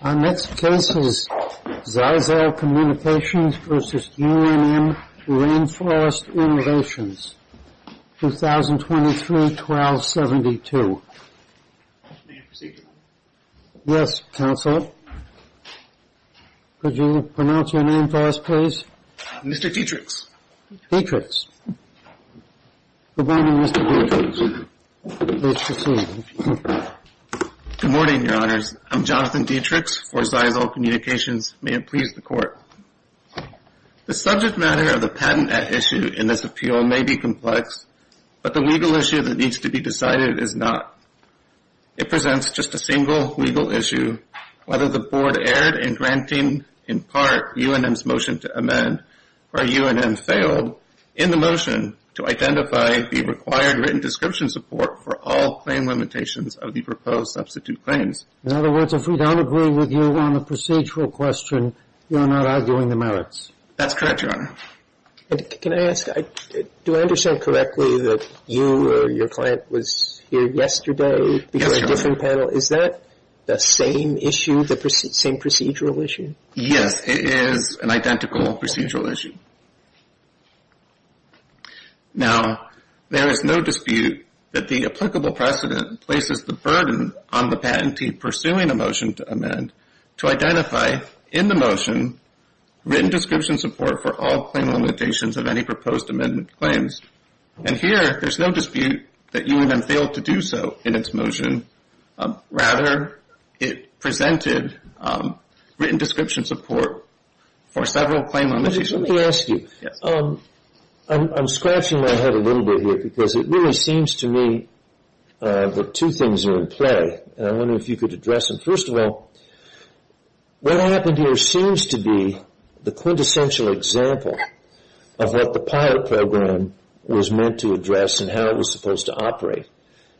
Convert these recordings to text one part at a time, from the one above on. Our next case is ZyXEL Communications v. UNM Rainforest Innovations, 2023-12-72. May I proceed, Your Honor? Yes, Counselor. Could you pronounce your name for us, please? Mr. Dietrichs. Dietrichs. Good morning, Mr. Dietrichs. Please proceed. Good morning, Your Honors. I'm Jonathan Dietrichs for ZyXEL Communications. May it please the Court. The subject matter of the patent at issue in this appeal may be complex, but the legal issue that needs to be decided is not. It presents just a single legal issue, whether the Board erred in granting, in part, UNM's motion to amend, or UNM failed in the motion to identify the required written description support for all claim limitations of the proposed substitute claims. In other words, if we don't agree with you on the procedural question, you're not arguing the merits. That's correct, Your Honor. Can I ask, do I understand correctly that you or your client was here yesterday? Yes, Your Honor. Is that the same issue, the same procedural issue? Yes, it is an identical procedural issue. Now, there is no dispute that the applicable precedent places the burden on the patentee pursuing a motion to amend to identify, in the motion, written description support for all claim limitations of any proposed amendment claims. And here, there's no dispute that UNM failed to do so in its motion. Rather, it presented written description support for several claim limitations. Let me ask you, I'm scratching my head a little bit here because it really seems to me that two things are in play. I wonder if you could address them. First of all, what happened here seems to be the quintessential example of what the PILOT program was meant to address and how it was supposed to operate.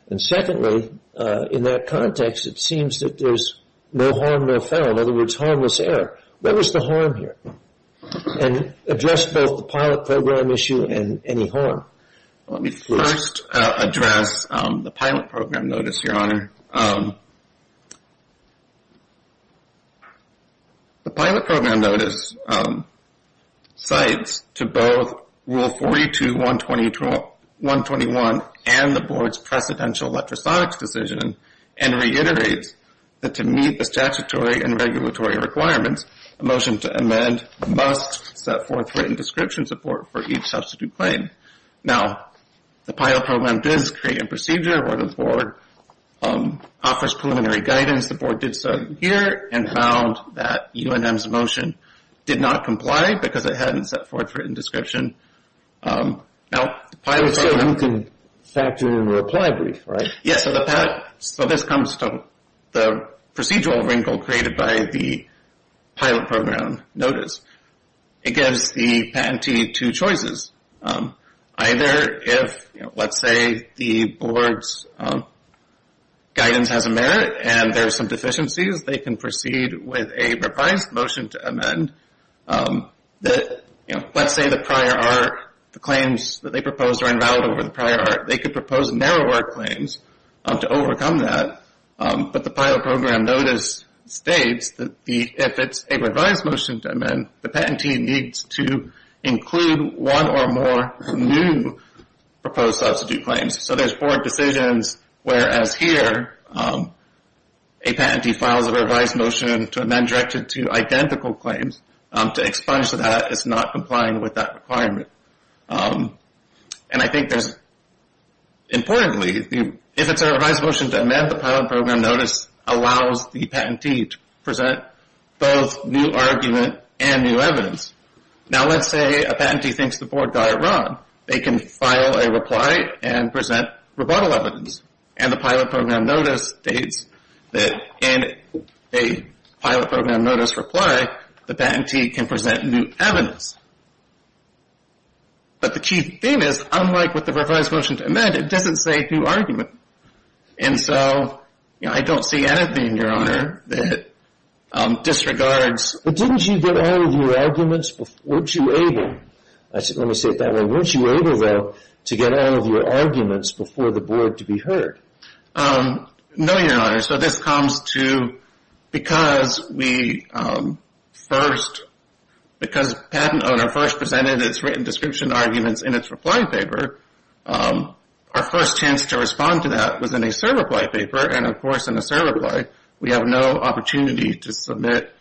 And secondly, in that context, it seems that there's no harm, no foul. In other words, harmless error. Where was the harm here? And address both the PILOT program issue and any harm. Let me first address the PILOT program notice, Your Honor. The PILOT program notice cites to both Rule 42-121 and the Board's precedential electrosonics decision and reiterates that to meet the statutory and regulatory requirements, a motion to amend must set forth written description support for each substitute claim. Now, the PILOT program does create a procedure where the Board offers preliminary guidance. The Board did so here and found that UNM's motion did not comply because it hadn't set forth written description. So you can factor in a reply brief, right? Yes. So this comes from the procedural wrinkle created by the PILOT program notice. It gives the patentee two choices. Either if, let's say, the Board's guidance has a merit and there's some deficiencies, they can proceed with a revised motion to amend. Let's say the prior art, the claims that they proposed are invalid over the prior art. They could propose narrower claims to overcome that. But the PILOT program notice states that if it's a revised motion to amend, the patentee needs to include one or more new proposed substitute claims. So there's four decisions, whereas here a patentee files a revised motion to amend directed to identical claims. To expunge that is not complying with that requirement. And I think there's, importantly, if it's a revised motion to amend, the PILOT program notice allows the patentee to present both new argument and new evidence. Now let's say a patentee thinks the Board got it wrong. They can file a reply and present rebuttal evidence. And the PILOT program notice states that in a PILOT program notice reply, the patentee can present new evidence. But the key thing is, unlike with the revised motion to amend, it doesn't say new argument. And so I don't see anything, Your Honor, that disregards... Let me say it that way. Weren't you able, though, to get all of your arguments before the Board to be heard? No, Your Honor. So this comes to because we first, because the patent owner first presented its written description arguments in its reply paper, our first chance to respond to that was in a surreply paper. And, of course, in a surreply, we have no opportunity to submit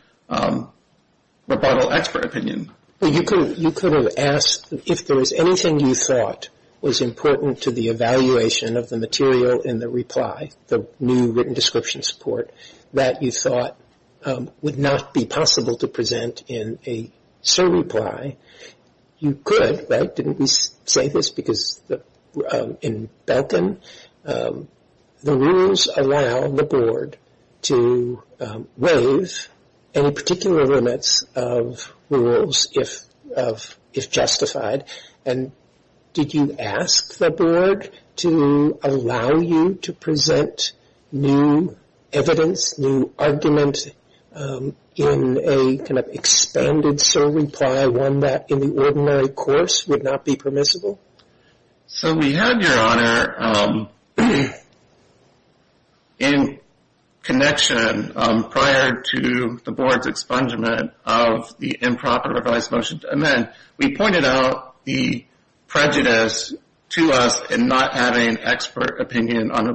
rebuttal expert opinion. Well, you could have asked if there was anything you thought was important to the evaluation of the material in the reply, the new written description support, that you thought would not be possible to present in a surreply. You could, right? Didn't we say this? Because in Belkin, the rules allow the Board to waive any particular limits of rules if justified. And did you ask the Board to allow you to present new evidence, new argument in a kind of expanded surreply, one that in the ordinary course would not be permissible? So we had, Your Honor, in connection prior to the Board's expungement of the improper revised motion to amend, we pointed out the prejudice to us in not having expert opinion on a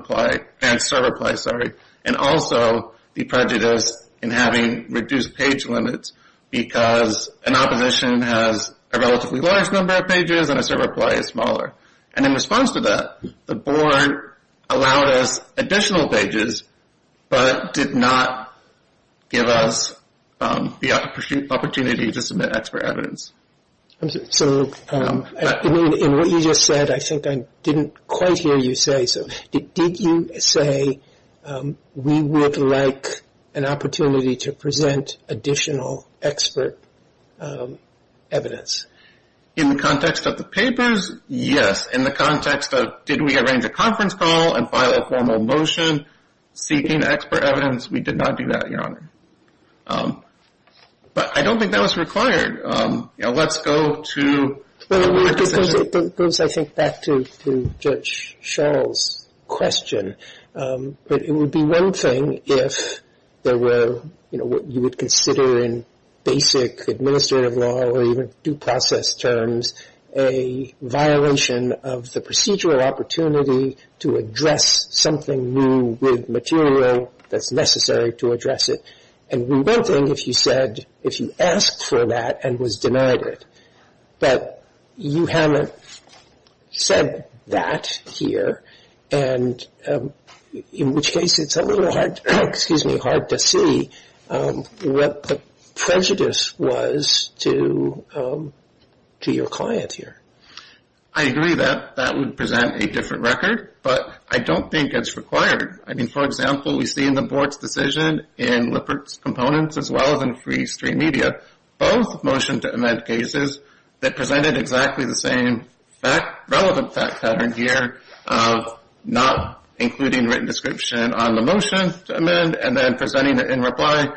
surreply, and also the prejudice in having reduced page limits because an opposition has a relatively large number of pages and a surreply is smaller. And in response to that, the Board allowed us additional pages, but did not give us the opportunity to submit expert evidence. So in what you just said, I think I didn't quite hear you say, so did you say we would like an opportunity to present additional expert evidence? In the context of the papers, yes. In the context of did we arrange a conference call and file a formal motion seeking expert evidence, we did not do that, Your Honor. But I don't think that was required. You know, let's go to my position. It goes, I think, back to Judge Schall's question. But it would be one thing if there were, you know, what you would consider in basic administrative law or even due process terms, a violation of the procedural opportunity to address something new with material that's necessary to address it. And one thing if you said, if you asked for that and was denied it. But you haven't said that here, and in which case it's a little hard to see what the prejudice was to your client here. I agree that that would present a different record, but I don't think it's required. I mean, for example, we see in the Board's decision in Lippert's components as well as in free stream media, both motion to amend cases that presented exactly the same relevant fact pattern here, not including written description on the motion to amend and then presenting it in reply,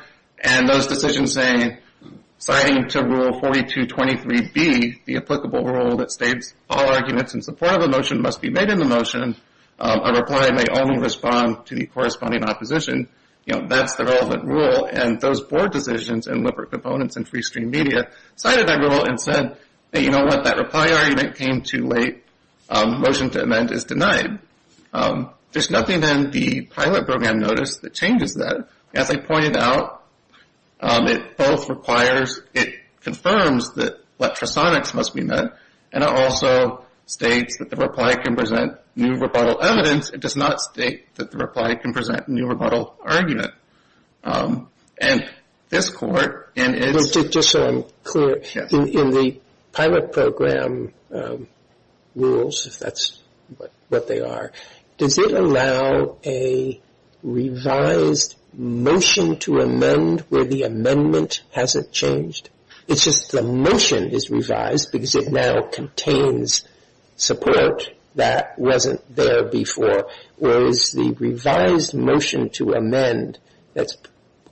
and those decisions saying, citing to Rule 4223B, the applicable rule that states all arguments in support of a motion must be made in the motion, a reply may only respond to the corresponding opposition. You know, that's the relevant rule. And those Board decisions in Lippert components and free stream media cited that rule and said, hey, you know what? That reply argument came too late. Motion to amend is denied. There's nothing in the pilot program notice that changes that. As I pointed out, it both requires, it confirms that electrosonics must be met, and it also states that the reply can present new rebuttal evidence. It does not state that the reply can present a new rebuttal argument. And this Court in its Just so I'm clear, in the pilot program rules, if that's what they are, does it allow a revised motion to amend where the amendment hasn't changed? It's just the motion is revised because it now contains support that wasn't there before, whereas the revised motion to amend that's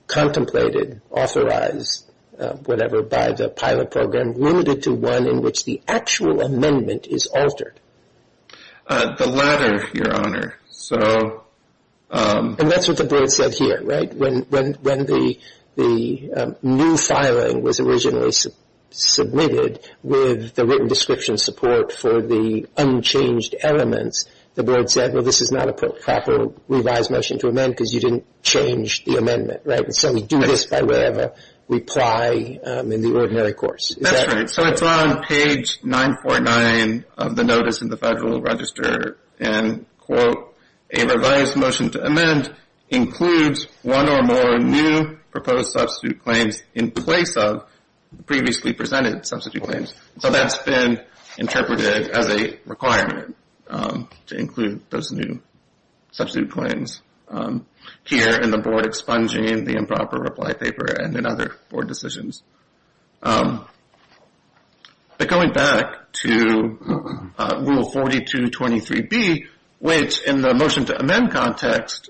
contemplated, authorized, whatever, by the pilot program limited to one in which the actual amendment is altered. The latter, Your Honor. So And that's what the Board said here, right? When the new filing was originally submitted with the written description support for the unchanged elements, the Board said, well, this is not a proper revised motion to amend because you didn't change the amendment, right? So we do this by whatever reply in the ordinary course. That's right. So it's on page 949 of the notice in the Federal Register. And, quote, a revised motion to amend includes one or more new proposed substitute claims in place of previously presented substitute claims. So that's been interpreted as a requirement to include those new substitute claims here in the Board expunging the improper reply paper and in other Board decisions. But going back to Rule 4223B, which in the motion to amend context,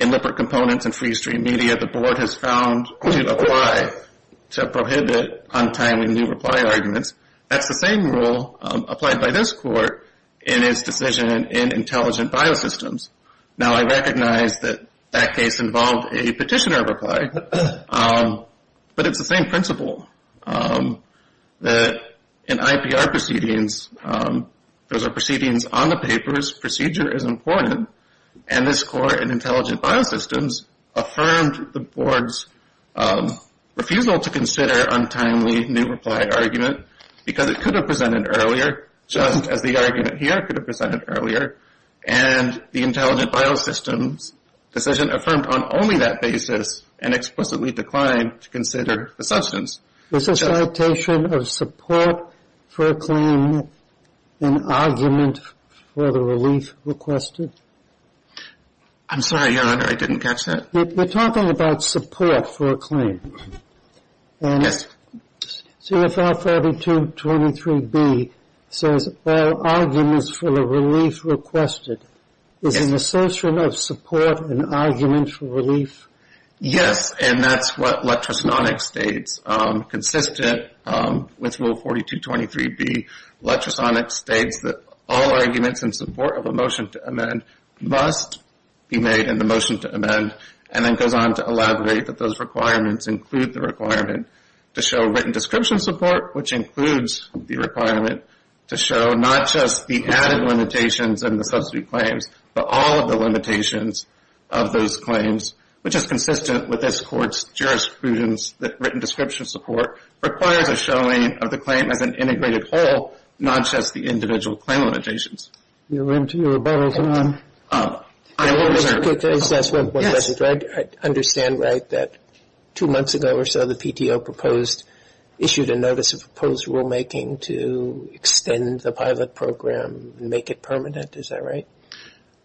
in Lippert Components and Free Stream Media, the Board has found to apply, to prohibit untimely new reply arguments. That's the same rule applied by this Court in its decision in Intelligent Biosystems. Now, I recognize that that case involved a petitioner reply. But it's the same principle that in IPR proceedings, those are proceedings on the papers. Procedure is important. And this Court in Intelligent Biosystems affirmed the Board's refusal to consider untimely new reply argument because it could have presented earlier, just as the argument here could have presented earlier. And the Intelligent Biosystems decision affirmed on only that basis and explicitly declined to consider the substance. Is the citation of support for a claim an argument for the relief requested? I'm sorry, Your Honor. I didn't catch that. You're talking about support for a claim. Yes. CFR 4223B says all arguments for the relief requested. Yes. Is an assertion of support an argument for relief? Yes. And that's what Lectrosonics states. Consistent with Rule 4223B, Lectrosonics states that all arguments in support of a motion to amend must be made in the motion to amend, and then goes on to elaborate that those requirements include the requirement to show written description support, which includes the requirement to show not just the added limitations and the substitute claims, but all of the limitations of those claims, which is consistent with this Court's jurisprudence that written description support requires a showing of the claim as an integrated whole, not just the individual claim limitations. Your rebuttal, Your Honor. I want to make a quick assessment. Yes. I understand, right, that two months ago or so, the PTO proposed issued a notice of proposed rulemaking to extend the pilot program and make it permanent. Is that right?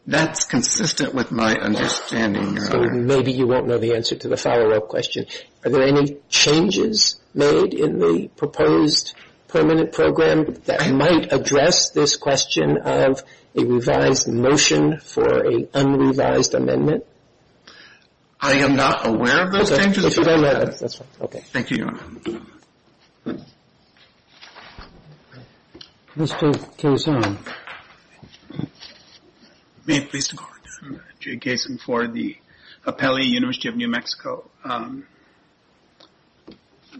That's consistent with my understanding, Your Honor. So maybe you won't know the answer to the follow-up question. Are there any changes made in the proposed permanent program that might address this question of a revised motion for an unrevised amendment? I am not aware of those changes. That's fine. Okay. Thank you, Your Honor. Mr. Kaysen. May it please the Court. Jay Kaysen for the Apelli University of New Mexico.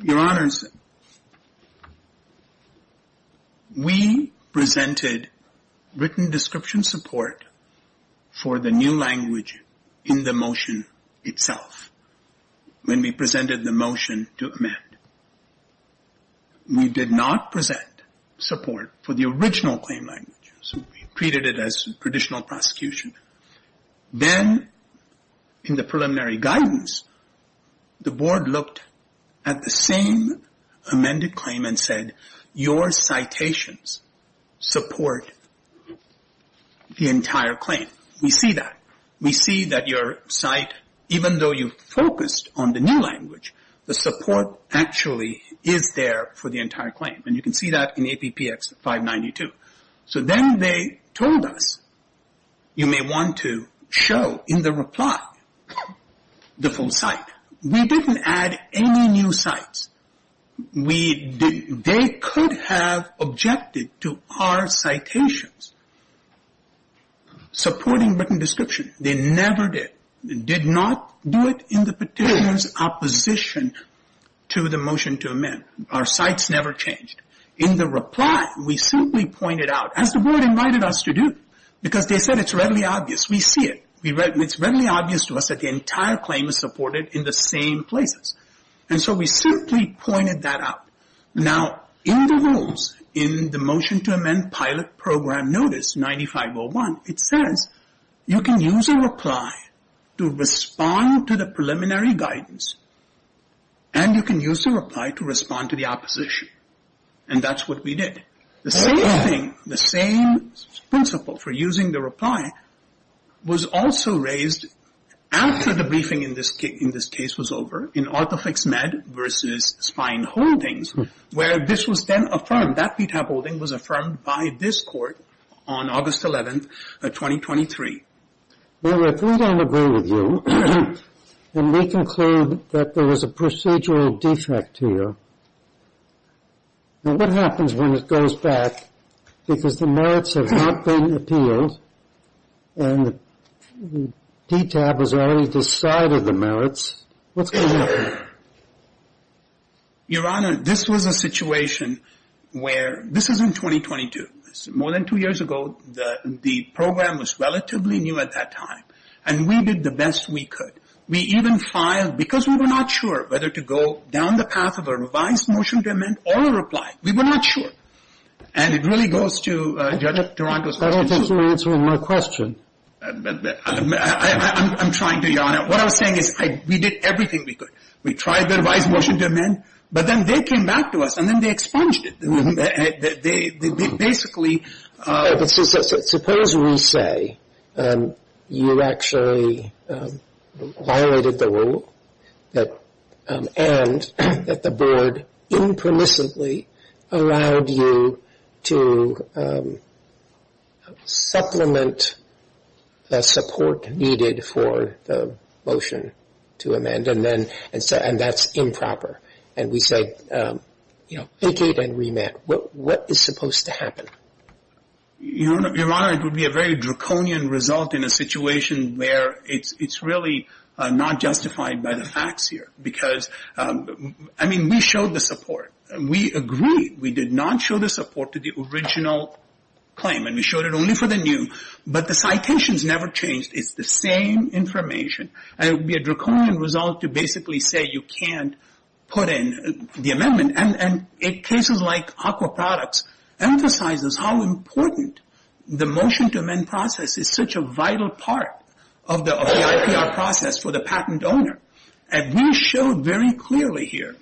Your Honors, we presented written description support for the new language in the motion itself. When we presented the motion to amend, we did not present support for the original claim language. So we treated it as traditional prosecution. Then, in the preliminary guidance, the Board looked at the same amended claim and said, your citations support the entire claim. We see that. We see that your cite, even though you focused on the new language, the support actually is there for the entire claim. And you can see that in APPX 592. So then they told us, you may want to show in the reply the full cite. We didn't add any new cites. They could have objected to our citations supporting written description. They never did. They did not do it in the petitioner's opposition to the motion to amend. Our cites never changed. In the reply, we simply pointed out, as the Board invited us to do, because they said it's readily obvious. We see it. It's readily obvious to us that the entire claim is supported in the same places. And so we simply pointed that out. Now, in the rules, in the motion to amend pilot program notice 9501, it says, you can use a reply to respond to the preliminary guidance, and you can use the reply to respond to the opposition. And that's what we did. The same thing, the same principle for using the reply was also raised after the briefing in this case was over, in ortho fix med versus spine holdings, where this was then affirmed. That PTAP holding was affirmed by this court on August 11th, 2023. Now, if we don't agree with you, and we conclude that there was a procedural defect here, what happens when it goes back, because the merits have not been appealed, and PTAP has already decided the merits, what's going to happen? Your Honor, this was a situation where, this is in 2022. It's more than two years ago. The program was relatively new at that time, and we did the best we could. We even filed, because we were not sure whether to go down the path of a revised motion to amend or a reply. We were not sure. And it really goes to Judge Toronto's point. I don't think you're answering my question. I'm trying to, Your Honor. What I was saying is we did everything we could. We tried the revised motion to amend, but then they came back to us, and then they expunged it. They basically. Suppose we say you actually violated the rule, and that the board impermissibly allowed you to supplement the support needed for the motion to amend, and that's improper. And we said, you know, take it and remand. What is supposed to happen? Your Honor, it would be a very draconian result in a situation where it's really not justified by the facts here. Because, I mean, we showed the support. We agreed. We did not show the support to the original claim, and we showed it only for the new. But the citations never changed. It's the same information. And it would be a draconian result to basically say you can't put in the amendment. And in cases like aqua products emphasizes how important the motion to amend process is, such a vital part of the IPR process for the patent owner. And we showed very clearly here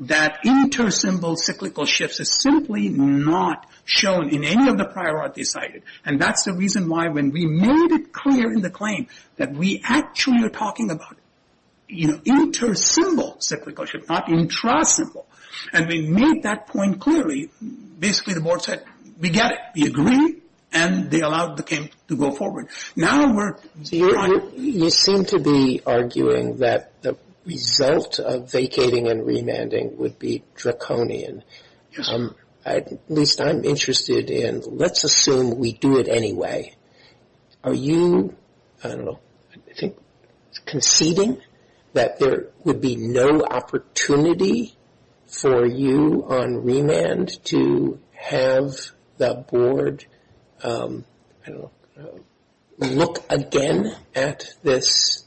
that inter-symbol cyclical shifts is simply not shown in any of the prior articles cited. And that's the reason why when we made it clear in the claim that we actually are talking about, you know, inter-symbol cyclical shift, not intra-symbol. And we made that point clearly. Basically, the board said, we get it. We agree. And they allowed the case to go forward. Now we're going to go on. You seem to be arguing that the result of vacating and remanding would be draconian. Yes. At least I'm interested in let's assume we do it anyway. Are you, I don't know, I think conceding that there would be no opportunity for you on remand to have the board, I don't know, look again at this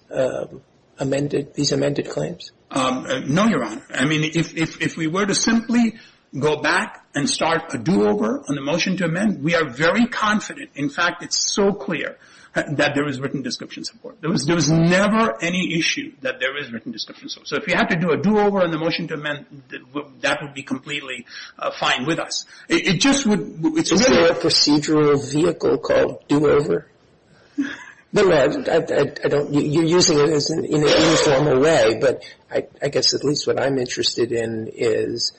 amended, these amended claims? No, Your Honor. I mean, if we were to simply go back and start a do-over on the motion to amend, we are very confident, in fact, it's so clear that there is written description support. There was never any issue that there is written description support. So if you have to do a do-over on the motion to amend, that would be completely fine with us. It just would, it's really a procedural vehicle called do-over. You're using it in an informal way, but I guess at least what I'm interested in is,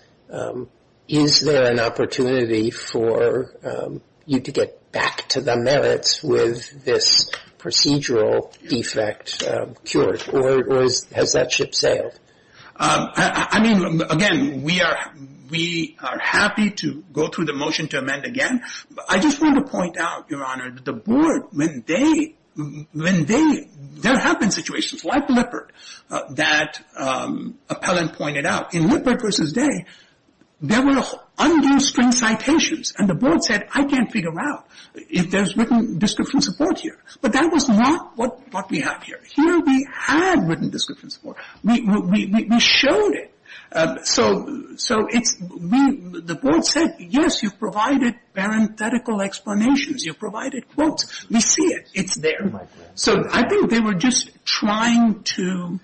is there an opportunity for you to get back to the merits with this procedural defect cured? Or has that ship sailed? I mean, again, we are happy to go through the motion to amend again. I just want to point out, Your Honor, that the board, when they, when they, there have been situations like Lippert that Appellant pointed out. In Lippert v. Day, there were unused string citations, and the board said, I can't figure out if there's written description support here. But that was not what we have here. Here we had written description support. We showed it. So it's, the board said, yes, you provided parenthetical explanations. You provided quotes. We see it. It's there. So I think they were just trying to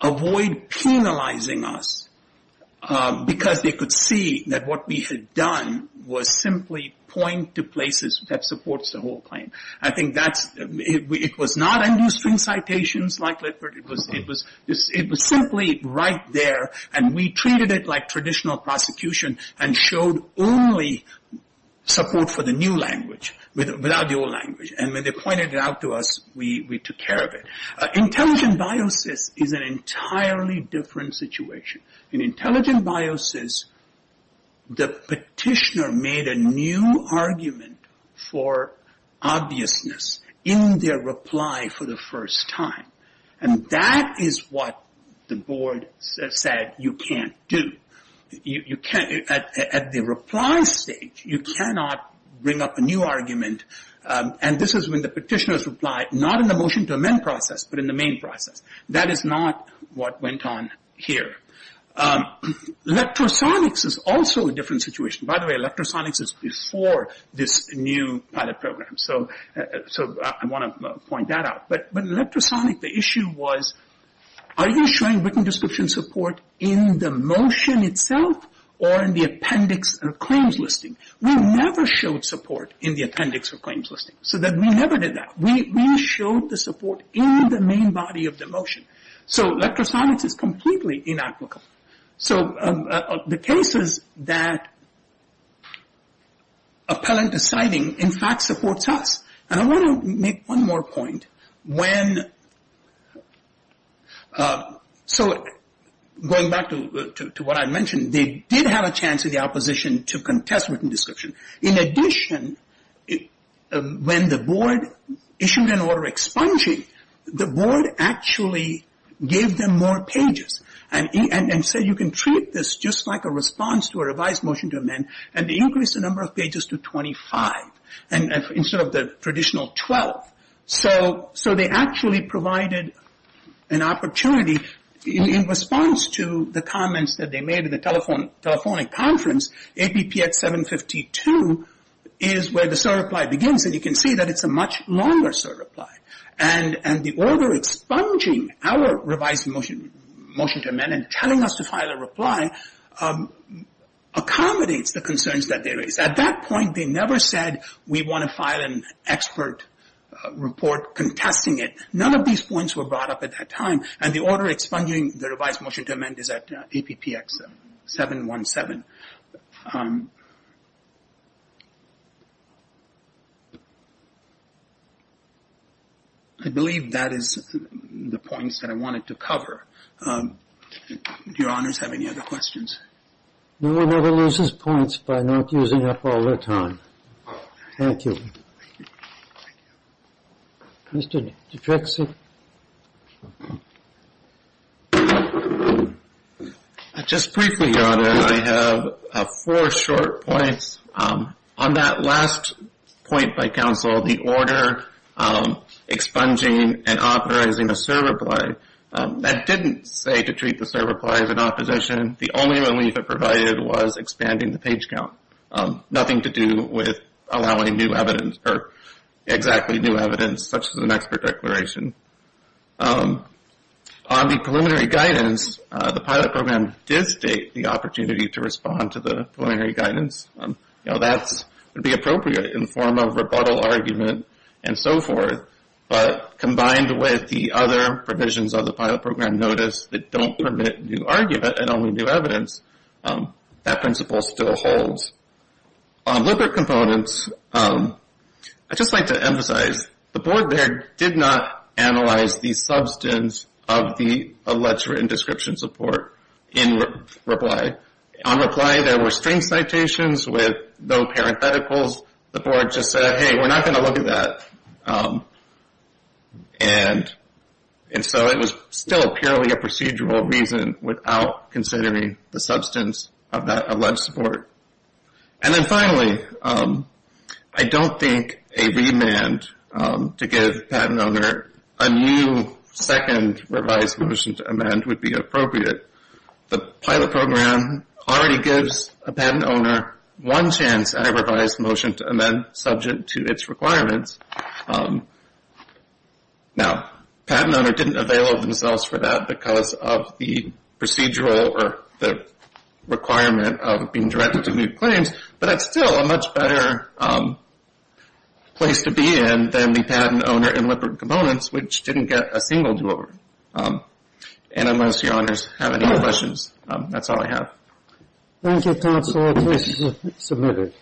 avoid penalizing us because they could see that what we had done was simply point to places that supports the whole claim. I think that's, it was not unused string citations like Lippert. It was simply right there, and we treated it like traditional prosecution and showed only support for the new language without the old language. And when they pointed it out to us, we took care of it. Intelligent biosis is an entirely different situation. In intelligent biosis, the petitioner made a new argument for obviousness in their reply for the first time. And that is what the board said you can't do. You can't, at the reply stage, you cannot bring up a new argument. And this is when the petitioner's reply, not in the motion to amend process, but in the main process. That is not what went on here. Electrosonics is also a different situation. By the way, electrosonics is before this new pilot program. So I want to point that out. But in electrosonics, the issue was are you showing written description support in the motion itself or in the appendix or claims listing? We never showed support in the appendix or claims listing. So we never did that. We showed the support in the main body of the motion. So electrosonics is completely inapplicable. So the cases that appellant is citing, in fact, supports us. And I want to make one more point. So going back to what I mentioned, they did have a chance in the opposition to contest written description. In addition, when the board issued an order expunging, the board actually gave them more pages and said you can treat this just like a response to a revised motion to amend and increase the number of pages to 25. And instead of the traditional 12. So they actually provided an opportunity in response to the comments that they made in the telephonic conference. APPS 752 is where the SOAR reply begins. And you can see that it's a much longer SOAR reply. And the order expunging our revised motion to amend and telling us to file a reply accommodates the concerns that they raised. At that point, they never said we want to file an expert report contesting it. None of these points were brought up at that time. And the order expunging the revised motion to amend is at APPX 717. I believe that is the points that I wanted to cover. Do your honors have any other questions? No one ever loses points by not using up all their time. Thank you. Mr. Dutrex? Just briefly, Your Honor, I have four short points. On that last point by counsel, the order expunging and authorizing a SOAR reply, that didn't say to treat the SOAR reply as an opposition. The only relief it provided was expanding the page count, nothing to do with allowing new evidence or exactly new evidence, such as an expert declaration. On the preliminary guidance, the pilot program did state the opportunity to respond to the preliminary guidance. That would be appropriate in the form of rebuttal argument and so forth. But combined with the other provisions of the pilot program notice that don't permit new argument and only new evidence, that principle still holds. Lipid components, I'd just like to emphasize, the board there did not analyze the substance of the alleged written description support in reply. On reply, there were string citations with no parentheticals. The board just said, hey, we're not going to look at that. And so it was still purely a procedural reason without considering the substance of that alleged support. And then finally, I don't think a remand to give the patent owner a new second revised motion to amend would be appropriate. The pilot program already gives a patent owner one chance at a revised motion to amend, subject to its requirements. Now, patent owner didn't avail themselves for that because of the procedural or the requirement of being directed to move claims. But that's still a much better place to be in than the patent owner in lipid components, which didn't get a single do-over. And unless your honors have any questions, that's all I have. Thank you, counsel. The case is submitted.